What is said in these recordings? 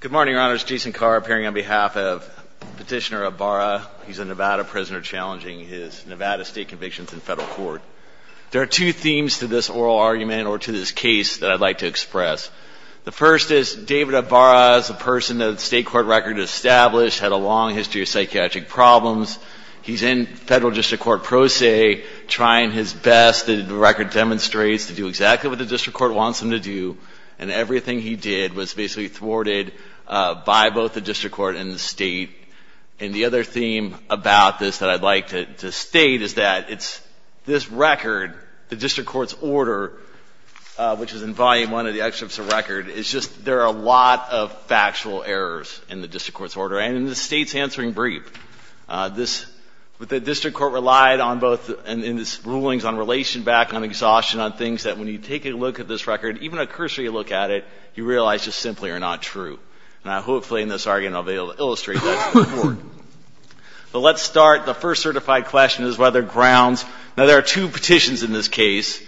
Good morning, Your Honors. Jason Carr appearing on behalf of Petitioner Abara. He's a Nevada prisoner challenging his Nevada state convictions in federal court. There are two themes to this oral argument, or to this case, that I'd like to express. The first is David Abara is a person that the state court record established, had a long history of psychiatric problems. He's in federal district court pro se, trying his best, the record demonstrates, to do exactly what the district court wants him to do. And everything he did was basically thwarted by both the district court and the state. And the other theme about this that I'd like to state is that it's this record, the district court's order, which is in volume one of the excerpts of record, is just there are a lot of factual errors in the district court's order. And in the state's answering brief, the district court relied on both in its rulings on relation back, on exhaustion, on things that when you take a look at this record, even a cursory look at it, you realize just simply are not true. And hopefully in this argument, I'll be able to illustrate that to the court. But let's start. The first certified question is whether grounds, now there are two petitions in this case.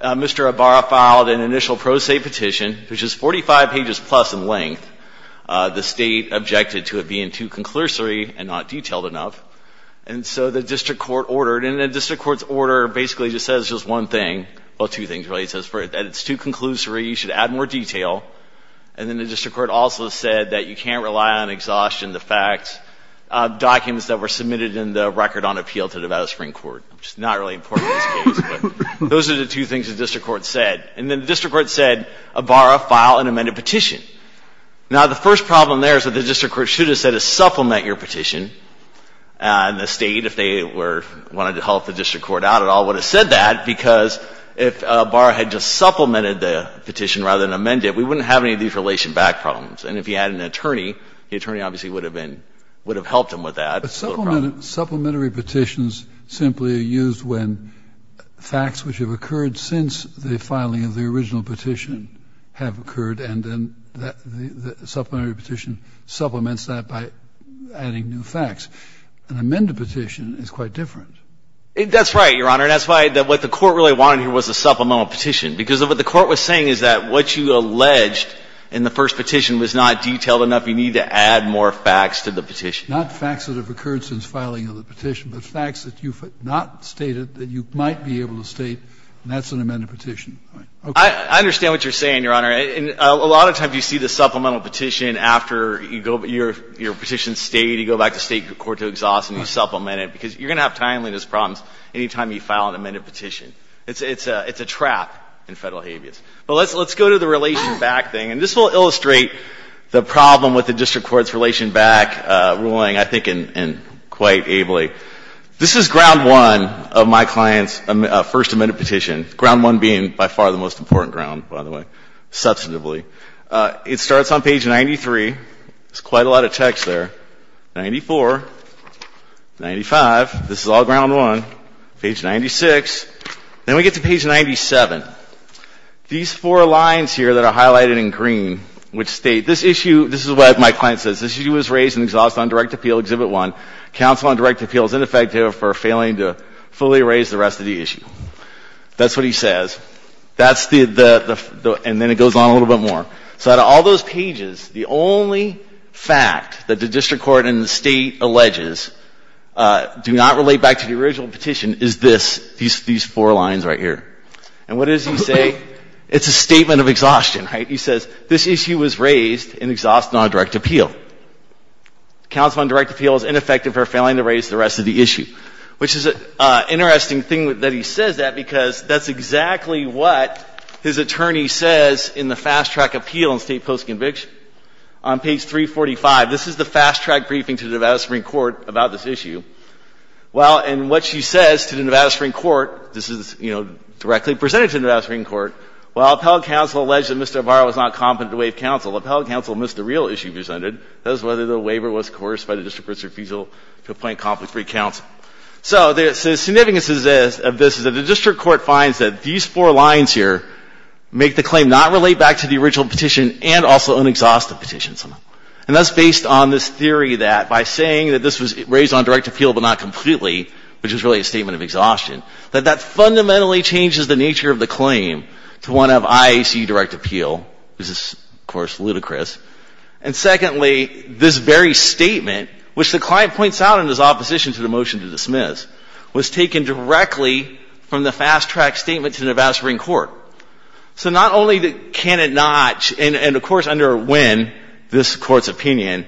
Mr. Abara filed an initial pro se petition, which is 45 pages plus in length. The state objected to it being too conclusory and not detailed enough. And so the district court ordered, and the district court's order basically just says just one thing, well, two things really. That it's too conclusory, you should add more detail. And then the district court also said that you can't rely on exhaustion, the fact, documents that were submitted in the record on appeal to Nevada Supreme Court, which is not really important in this case. Those are the two things the district court said. And then the district court said, Abara, file an amended petition. Now the first problem there is that the district court should have said to supplement your petition. And the state, if they wanted to help the district court out at all, would have said that. Because if Abara had just supplemented the petition rather than amend it, we wouldn't have any of these relation back problems. And if he had an attorney, the attorney obviously would have been, would have helped him with that. Supplementary petitions simply are used when facts which have occurred since the filing of the original petition have occurred. And then the supplementary petition supplements that by adding new facts. An amended petition is quite different. That's right, Your Honor. And that's why what the court really wanted here was a supplemental petition. Because what the court was saying is that what you alleged in the first petition was not detailed enough. You need to add more facts to the petition. Not facts that have occurred since filing of the petition, but facts that you have not stated that you might be able to state. And that's an amended petition. I understand what you're saying, Your Honor. And a lot of times you see the supplemental petition after you go, your petition stayed, you go back to state court to exhaust, and you supplement it. Because you're going to have timeliness problems anytime you file an amended petition. It's a trap in Federal habeas. But let's go to the relation back thing. And this will illustrate the problem with the district court's relation back ruling, I think, quite ably. This is ground one of my client's first amended petition. Ground one being, by far, the most important ground, by the way, substantively. It starts on page 93. There's quite a lot of text there. 94, 95. This is all ground one. Page 96. Then we get to page 97. These four lines here that are highlighted in green which state, this issue, this is what my client says. This issue was raised and exhaust on direct appeal, exhibit one. Counsel on direct appeal is ineffective for failing to fully raise the rest of the issue. That's what he says. That's the, and then it goes on a little bit more. So out of all those pages, the only fact that the district court and the state alleges do not relate back to the original petition is this, these four lines right here. And what does he say? It's a statement of exhaustion, right? He says, this issue was raised and exhaust on direct appeal. Counsel on direct appeal is ineffective for failing to raise the rest of the issue. Which is an interesting thing that he says that because that's exactly what his attorney says in the fast track appeal in state post conviction. On page 345, this is the fast track briefing to the Nevada Supreme Court about this issue. Well, and what she says to the Nevada Supreme Court, this is, you know, directly presented to the Nevada Supreme Court. Well, appellate counsel alleged that Mr. Navarro was not competent to waive counsel. Appellate counsel missed the real issue presented. That is whether the waiver was coerced by the district court's refusal to appoint competent free counsel. So the significance of this is that the district court finds that these four lines here make the claim not relate back to the original petition and also an exhaustive petition. And that's based on this theory that by saying that this was raised on direct appeal but not completely, which is really a statement of exhaustion, that that fundamentally changes the nature of the claim to one of IAC direct appeal. This is, of course, ludicrous. And secondly, this very statement, which the client points out in his opposition to the motion to dismiss, was taken directly from the fast track statement to the Nevada Supreme Court. So not only can it not, and of course under Nguyen, this Court's opinion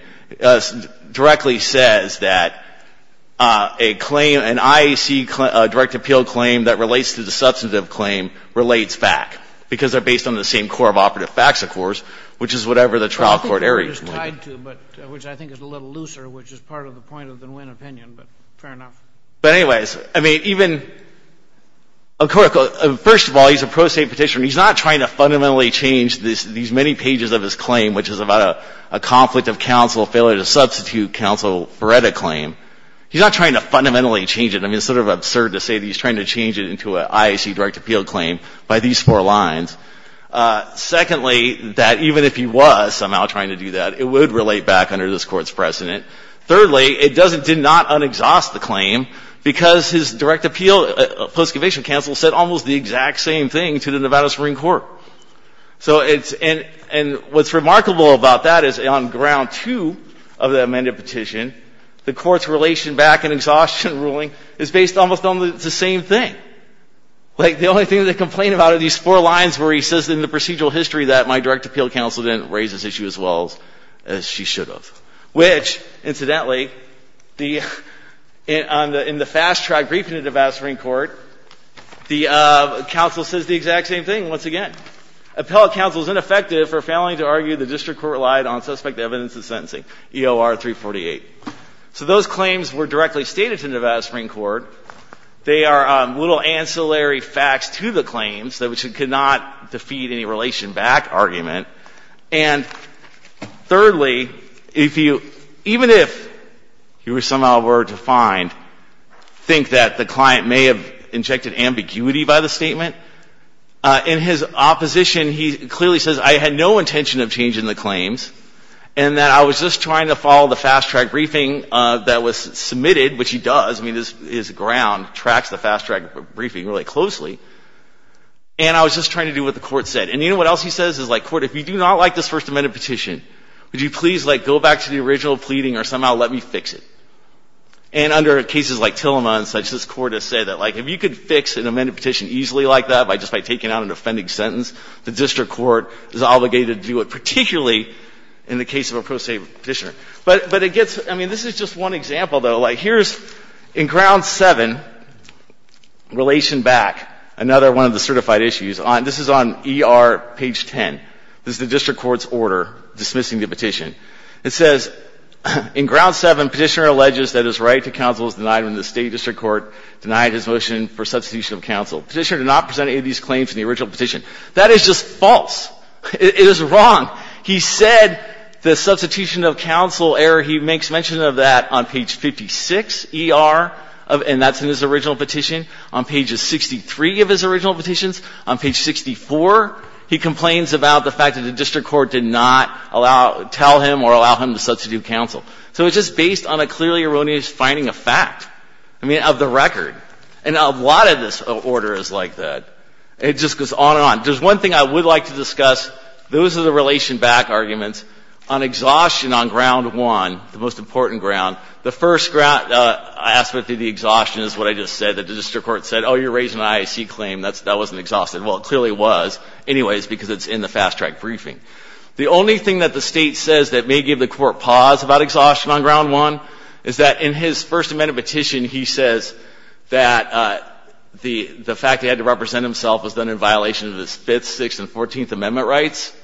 directly says that a claim, an IAC direct appeal claim that relates to the substantive claim relates back because they're based on the same core of operative facts, of course, which is whatever the trial court areas. But I think they're just tied to, but which I think is a little looser, which is part of the point of the Nguyen opinion, but fair enough. But anyways, I mean, even a court, first of all, he's a pro se petitioner. He's not trying to fundamentally change these many pages of his claim, which is about a conflict of counsel, failure to substitute counsel for a claim. He's not trying to fundamentally change it. I mean, it's sort of absurd to say that he's trying to change it into an IAC direct appeal claim by these four lines. Secondly, that even if he was somehow trying to do that, it would relate back under this Court's precedent. Thirdly, it did not un-exhaust the claim because his direct appeal, post-conviction counsel said almost the exact same thing to the Nevada Supreme Court. So it's, and what's remarkable about that is on ground two of the amended petition, the Court's relation back and exhaustion ruling is based almost on the same thing. Like the only thing that they complain about are these four lines where he says in the procedural history that my direct appeal counsel didn't raise this issue as well as she should have. Which, incidentally, in the fast track briefing to Nevada Supreme Court, the counsel says the exact same thing once again. Appellate counsel is ineffective for failing to argue the district court relied on suspect evidence of sentencing, EOR 348. So those claims were directly stated to Nevada Supreme Court. They are little ancillary facts to the claims which could not defeat any relation back argument. And thirdly, if you, even if you somehow were to find, think that the client may have injected ambiguity by the statement, in his opposition, he clearly says I had no intention of changing the claims and that I was just trying to follow the fast track briefing that was submitted, which he does, I mean, his ground tracks the fast track briefing really closely. And I was just trying to do what the court said. And you know what else he says? He says, like, court, if you do not like this First Amendment petition, would you please, like, go back to the original pleading or somehow let me fix it? And under cases like Tillema and such, this court has said that, like, if you could fix an amended petition easily like that by just by taking out an offending sentence, the district court is obligated to do it, particularly in the case of a pro se petitioner. But it gets, I mean, this is just one example, though. Like, here's in ground seven, relation back, another one of the certified issues. This is on ER page 10. This is the district court's order dismissing the petition. It says, in ground seven, petitioner alleges that his right to counsel is denied when the state district court denied his motion for substitution of counsel. Petitioner did not present any of these claims in the original petition. That is just false. It is wrong. He said the substitution of counsel error, he makes mention of that on page 56, ER, and that's in his original petition, on pages 63 of his original petitions, on page 64, he complains about the fact that the district court did not allow, tell him or allow him to substitute counsel. So it's just based on a clearly erroneous finding of fact, I mean, of the record. And a lot of this order is like that. It just goes on and on. There's one thing I would like to discuss. Those are the relation back arguments. On exhaustion on ground one, the most important ground, the first ground, I asked about the exhaustion is what I just said, that the district court said, oh, you're raising an IAC claim. That wasn't exhaustion. Well, it clearly was. Anyways, because it's in the fast track briefing. The only thing that the state says that may give the court pause about exhaustion on ground one is that in his First Amendment petition, he says that the fact he had to represent himself was done in violation of his Fifth, Sixth, and Fourteenth Amendment rights.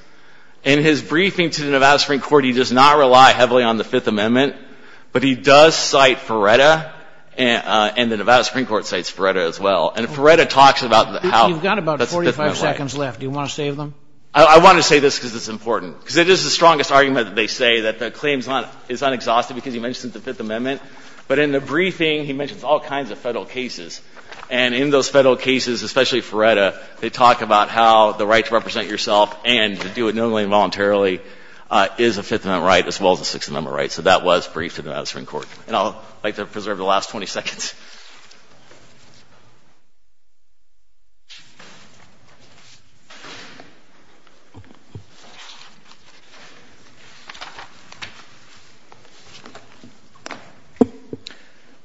In his briefing to the Nevada Supreme Court, he does not rely heavily on the Fifth Amendment, but he does cite Feretta, and the Nevada Supreme Court cites Feretta as well. And Feretta talks about how that's a Fifth Amendment right. You've got about 45 seconds left. Do you want to save them? I want to say this because it's important, because it is the strongest argument that they say that the claim is not exhausted, because he mentions the Fifth Amendment. But in the briefing, he mentions all kinds of Federal cases. And in those Federal cases, especially Feretta, they talk about how the right to represent yourself and to do it knowingly and voluntarily is a Fifth Amendment right, as well as a Sixth Amendment right. So that was briefed to the Nevada Supreme Court. And I'd like to preserve the last 20 seconds. Ms. Proctor.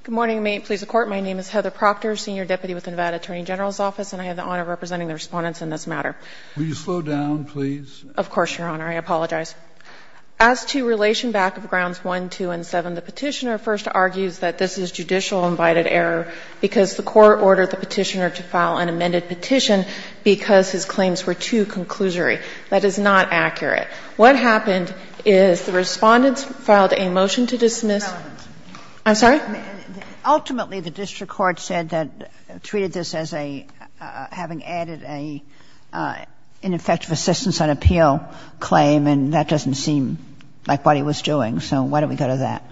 Good morning. May it please the Court. My name is Heather Proctor, senior deputy with the Nevada Attorney General's Office, and I have the honor of representing the Respondents in this matter. Will you slow down, please? Of course, Your Honor. I apologize. As to relation back of Grounds 1, 2, and 7, the Petitioner first argues that this is judicial-invited error because the Court ordered the Petitioner to file an amended petition because his claims were too conclusory. That is not accurate. What happened is the Respondents filed a motion to dismiss. I'm sorry? Ultimately, the district court said that they treated this as having added an ineffective assistance on appeal claim, and that doesn't seem like what he was doing. So why don't we go to that?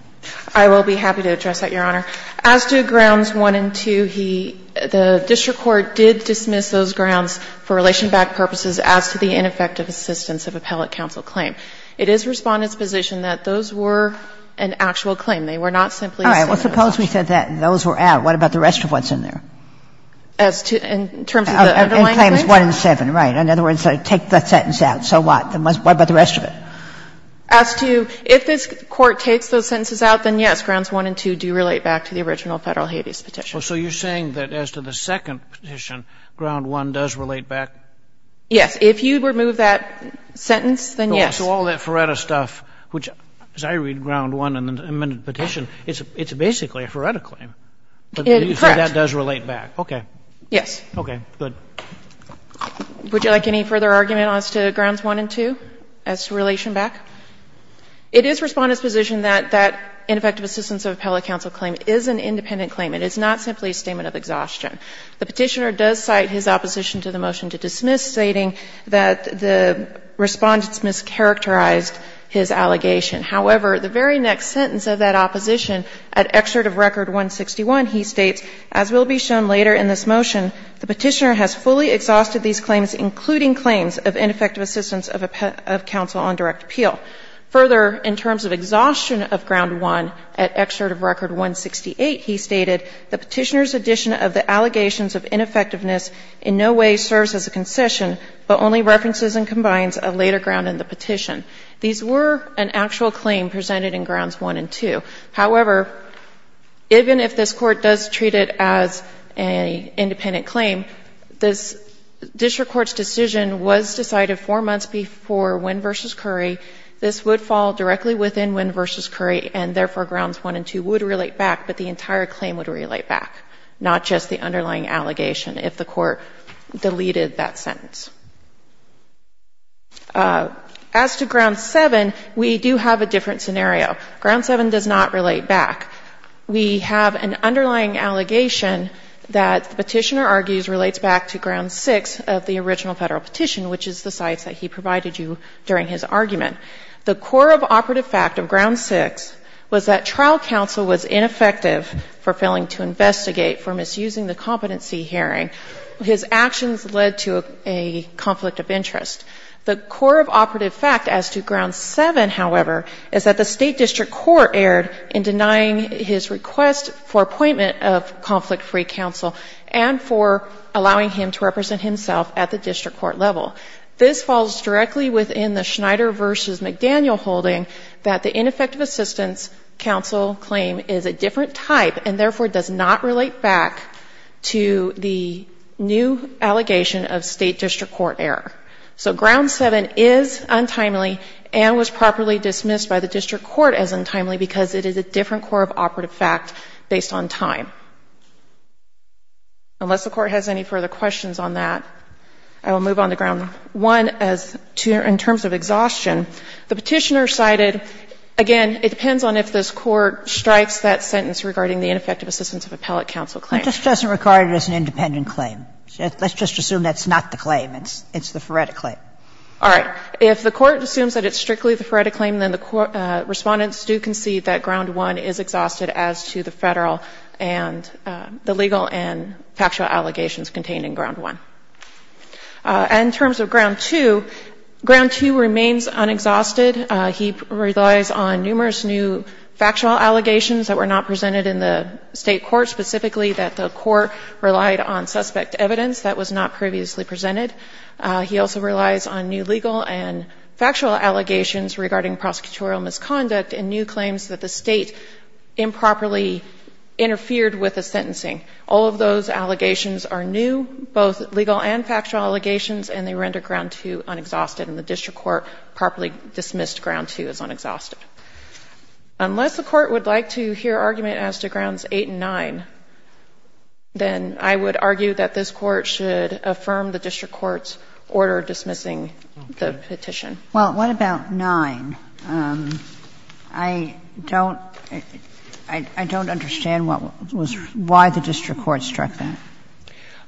I will be happy to address that, Your Honor. As to Grounds 1 and 2, he – the district court did dismiss those grounds for relation back purposes as to the ineffective assistance of appellate counsel claim. It is Respondents' position that those were an actual claim. They were not simply a set of assumptions. All right. Well, suppose we said that those were out. What about the rest of what's in there? As to – in terms of the underlying claims? In claims 1 and 7, right. In other words, take that sentence out. So what? What about the rest of it? As to – if this Court takes those sentences out, then, yes, Grounds 1 and 2 do relate back to the original Federal habeas petition. So you're saying that as to the second petition, Ground 1 does relate back? Yes. If you remove that sentence, then yes. So all that Feretta stuff, which, as I read Ground 1 in the amended petition, it's basically a Feretta claim. Correct. But that does relate back. Okay. Yes. Okay. Good. Would you like any further argument as to Grounds 1 and 2 as to relation back? It is Respondent's position that that ineffective assistance of appellate counsel claim is an independent claim. It is not simply a statement of exhaustion. The Petitioner does cite his opposition to the motion to dismiss, stating that the Respondent mischaracterized his allegation. However, the very next sentence of that opposition, at Excerpt of Record 161, he states, as will be shown later in this motion, the Petitioner has fully exhausted these claims, including claims of ineffective assistance of counsel on direct appeal. Further, in terms of exhaustion of Ground 1, at Excerpt of Record 168, he stated, the Petitioner's addition of the allegations of ineffectiveness in no way serves as a concession, but only references and combines a later ground in the petition. These were an actual claim presented in Grounds 1 and 2. However, even if this Court does treat it as an independent claim, this district court's decision was decided four months before Winn v. Curry. This would fall directly within Winn v. Curry, and therefore, Grounds 1 and 2 would relate back, but the entire claim would relate back, not just the underlying allegation, if the Court deleted that sentence. As to Ground 7, we do have a different scenario. Ground 7 does not relate back. We have an underlying allegation that the Petitioner argues relates back to Ground 6 of the original Federal petition, which is the sites that he provided you during his argument. The core of operative fact of Ground 6 was that trial counsel was ineffective for failing to investigate for misusing the competency hearing. His actions led to a conflict of interest. The core of operative fact as to Ground 7, however, is that the State District Court erred in denying his request for appointment of conflict-free counsel and for allowing him to represent himself at the district court level. This falls directly within the Schneider v. McDaniel holding that the ineffective assistance counsel claim is a different type and, therefore, does not relate back to the new allegation of State District Court error. So Ground 7 is untimely and was properly dismissed by the district court as untimely because it is a different core of operative fact based on time. Unless the Court has any further questions on that, I will move on to Ground 1. In terms of exhaustion, the Petitioner cited, again, it depends on if this Court strikes that sentence regarding the ineffective assistance of appellate counsel claim. Kagan. But this doesn't regard it as an independent claim. Let's just assume that's not the claim. It's the foretically. All right. If the Court assumes that it's strictly the foretically, then the Respondents do concede that Ground 1 is exhausted as to the Federal and the legal and factual allegations contained in Ground 1. And in terms of Ground 2, Ground 2 remains unexhausted. He relies on numerous new factual allegations that were not presented in the State Court, specifically that the Court relied on suspect evidence that was not previously presented. He also relies on new legal and factual allegations regarding prosecutorial misconduct and new claims that the State improperly interfered with the sentencing. All of those allegations are new, both legal and factual allegations, and they render Ground 2 unexhausted, and the District Court properly dismissed Ground 2 as unexhausted. Unless the Court would like to hear argument as to Grounds 8 and 9, then I would argue that this Court should affirm the District Court's order dismissing the petition. Well, what about 9? I don't, I don't understand what was, why the District Court struck that.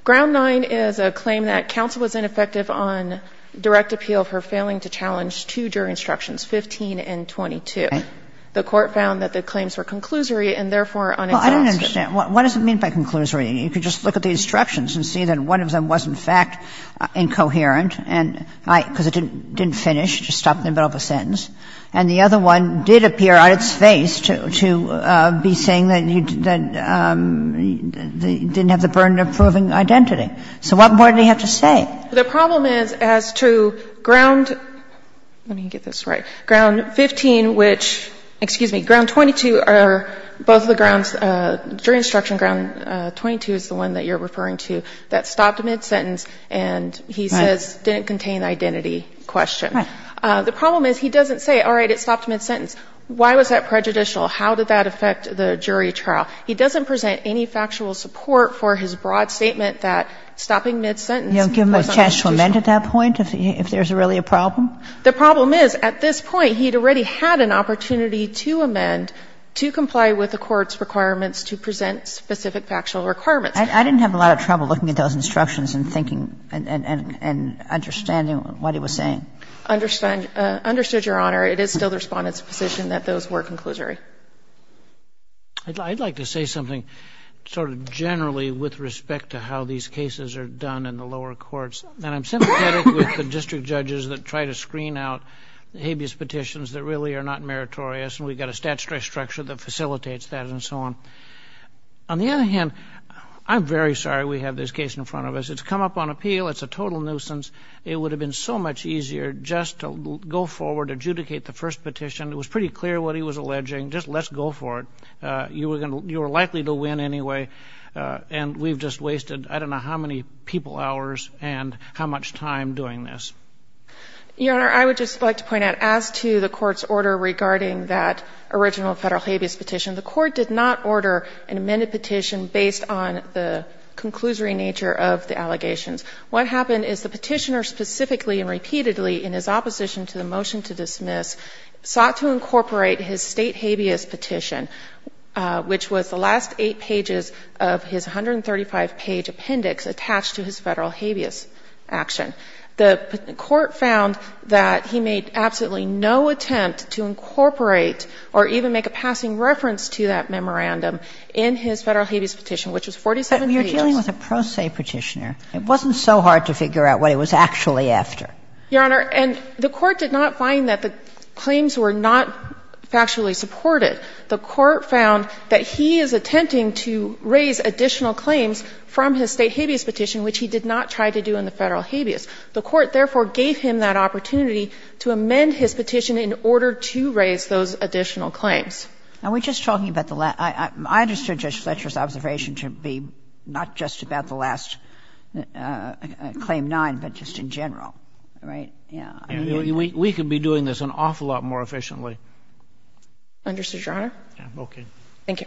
Ground 9 is a claim that counsel was ineffective on direct appeal for failing to challenge two jury instructions, 15 and 22. The Court found that the claims were conclusory and therefore unexhaustive. Well, I don't understand. What does it mean by conclusory? You could just look at the instructions and see that one of them was, in fact, incoherent and I, because it didn't finish, just stopped in the middle of a sentence, and the other one did appear on its face to, to be saying that he, that he didn't have the burden of proving identity. So what more do you have to say? The problem is as to Ground, let me get this right, Ground 15, which, excuse me, Ground 22 are both the grounds, jury instruction Ground 22 is the one that you're referring to that stopped mid-sentence and he says didn't contain identity question. The problem is he doesn't say, all right, it stopped mid-sentence. Why was that prejudicial? How did that affect the jury trial? He doesn't present any factual support for his broad statement that stopping mid-sentence was unpredictable. You don't give him a chance to amend at that point if there's really a problem? The problem is at this point he had already had an opportunity to amend to comply with the court's requirements to present specific factual requirements. I didn't have a lot of trouble looking at those instructions and thinking and understanding what he was saying. Understood, Your Honor. It is still the Respondent's position that those were conclusory. I'd like to say something sort of generally with respect to how these cases are done in the lower courts. And I'm sympathetic with the district judges that try to screen out habeas petitions that really are not meritorious and we've got a statutory structure that facilitates that and so on. On the other hand, I'm very sorry we have this case in front of us. It's come up on appeal. It's a total nuisance. It would have been so much easier just to go forward, adjudicate the first petition. It was pretty clear what he was alleging. Just let's go for it. You were likely to win anyway and we've just wasted I don't know how many people hours and how much time doing this. Your Honor, I would just like to point out, as to the Court's order regarding that original Federal habeas petition, the Court did not order an amended petition based on the conclusory nature of the allegations. What happened is the Petitioner specifically and repeatedly in his opposition to the motion to dismiss sought to incorporate his State habeas petition, which was the last eight pages of his 135-page appendix attached to his Federal habeas action. The Court found that he made absolutely no attempt to incorporate or even make a passing reference to that memorandum in his Federal habeas petition, which was 47 pages. But you're dealing with a pro se Petitioner. It wasn't so hard to figure out what he was actually after. Your Honor, and the Court did not find that the claims were not factually supported. The Court found that he is attempting to raise additional claims from his State habeas petition, which he did not try to do in the Federal habeas. The Court, therefore, gave him that opportunity to amend his petition in order to raise those additional claims. And we're just talking about the last — I understood Judge Fletcher's observation to be not just about the last Claim 9, but just in general, right? Yeah. We could be doing this an awful lot more efficiently. Understood, Your Honor? Okay. Thank you.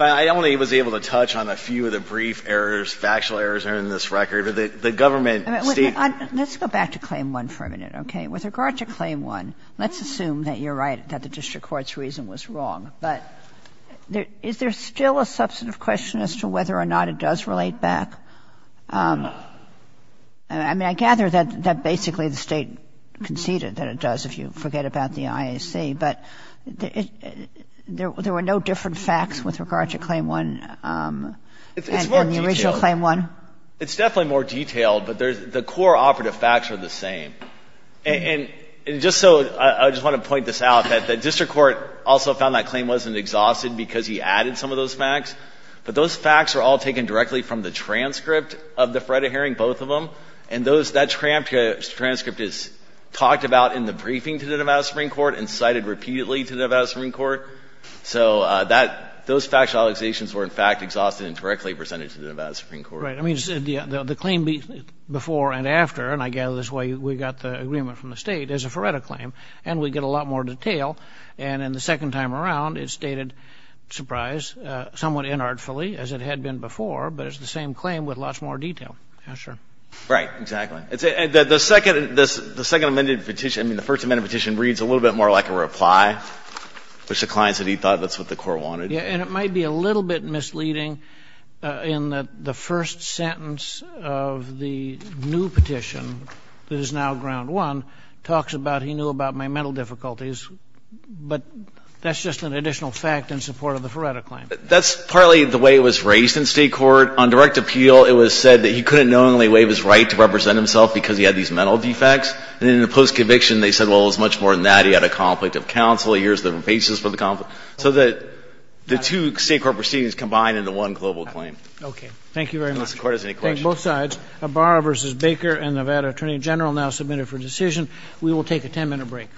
I only was able to touch on a few of the brief errors, factual errors in this record. The Government State — Let's go back to Claim 1 for a minute, okay? With regard to Claim 1, let's assume that you're right, that the district court's reason was wrong. But is there still a substantive question as to whether or not it does relate back? I mean, I gather that basically the State conceded that it does, if you forget about the IAC. But there were no different facts with regard to Claim 1 than the original Claim 1? It's more detailed. It's definitely more detailed, but the core operative facts are the same. And just so — I just want to point this out, that the district court also found that Claim 1 wasn't exhausted because he added some of those facts. But those facts are all taken directly from the transcript of the FREDA hearing, both of them. And that transcript is talked about in the briefing to the Nevada Supreme Court and cited repeatedly to the Nevada Supreme Court. So those factual allegations were, in fact, exhausted and directly presented to the Nevada Supreme Court. Right. I mean, the claim before and after, and I gather this is why we got the agreement from the State, is a FREDA claim, and we get a lot more detail. And in the second time around, it's stated, surprise, somewhat inartfully, as it had been before, but it's the same claim with lots more detail. Yes, sir. Right. Exactly. The second — the second amended petition — I mean, the first amended petition reads a little bit more like a reply, which the client said he thought that's what the court wanted. Yeah. And it might be a little bit misleading in that the first sentence of the new petition that is now ground one talks about he knew about my mental difficulties. But that's just an additional fact in support of the FREDA claim. That's partly the way it was raised in State court. On direct appeal, it was said that he couldn't knowingly waive his right to represent himself because he had these mental defects. And then in the post-conviction, they said, well, it was much more than that. He had a conflict of counsel. Here's the basis for the conflict. So the two State court proceedings combined into one global claim. Okay. Thank you very much. Unless the Court has any questions. Thank you. All right. It's a var versus Baker and Nevada Attorney General now submitted for decision. We will take a 10-minute break.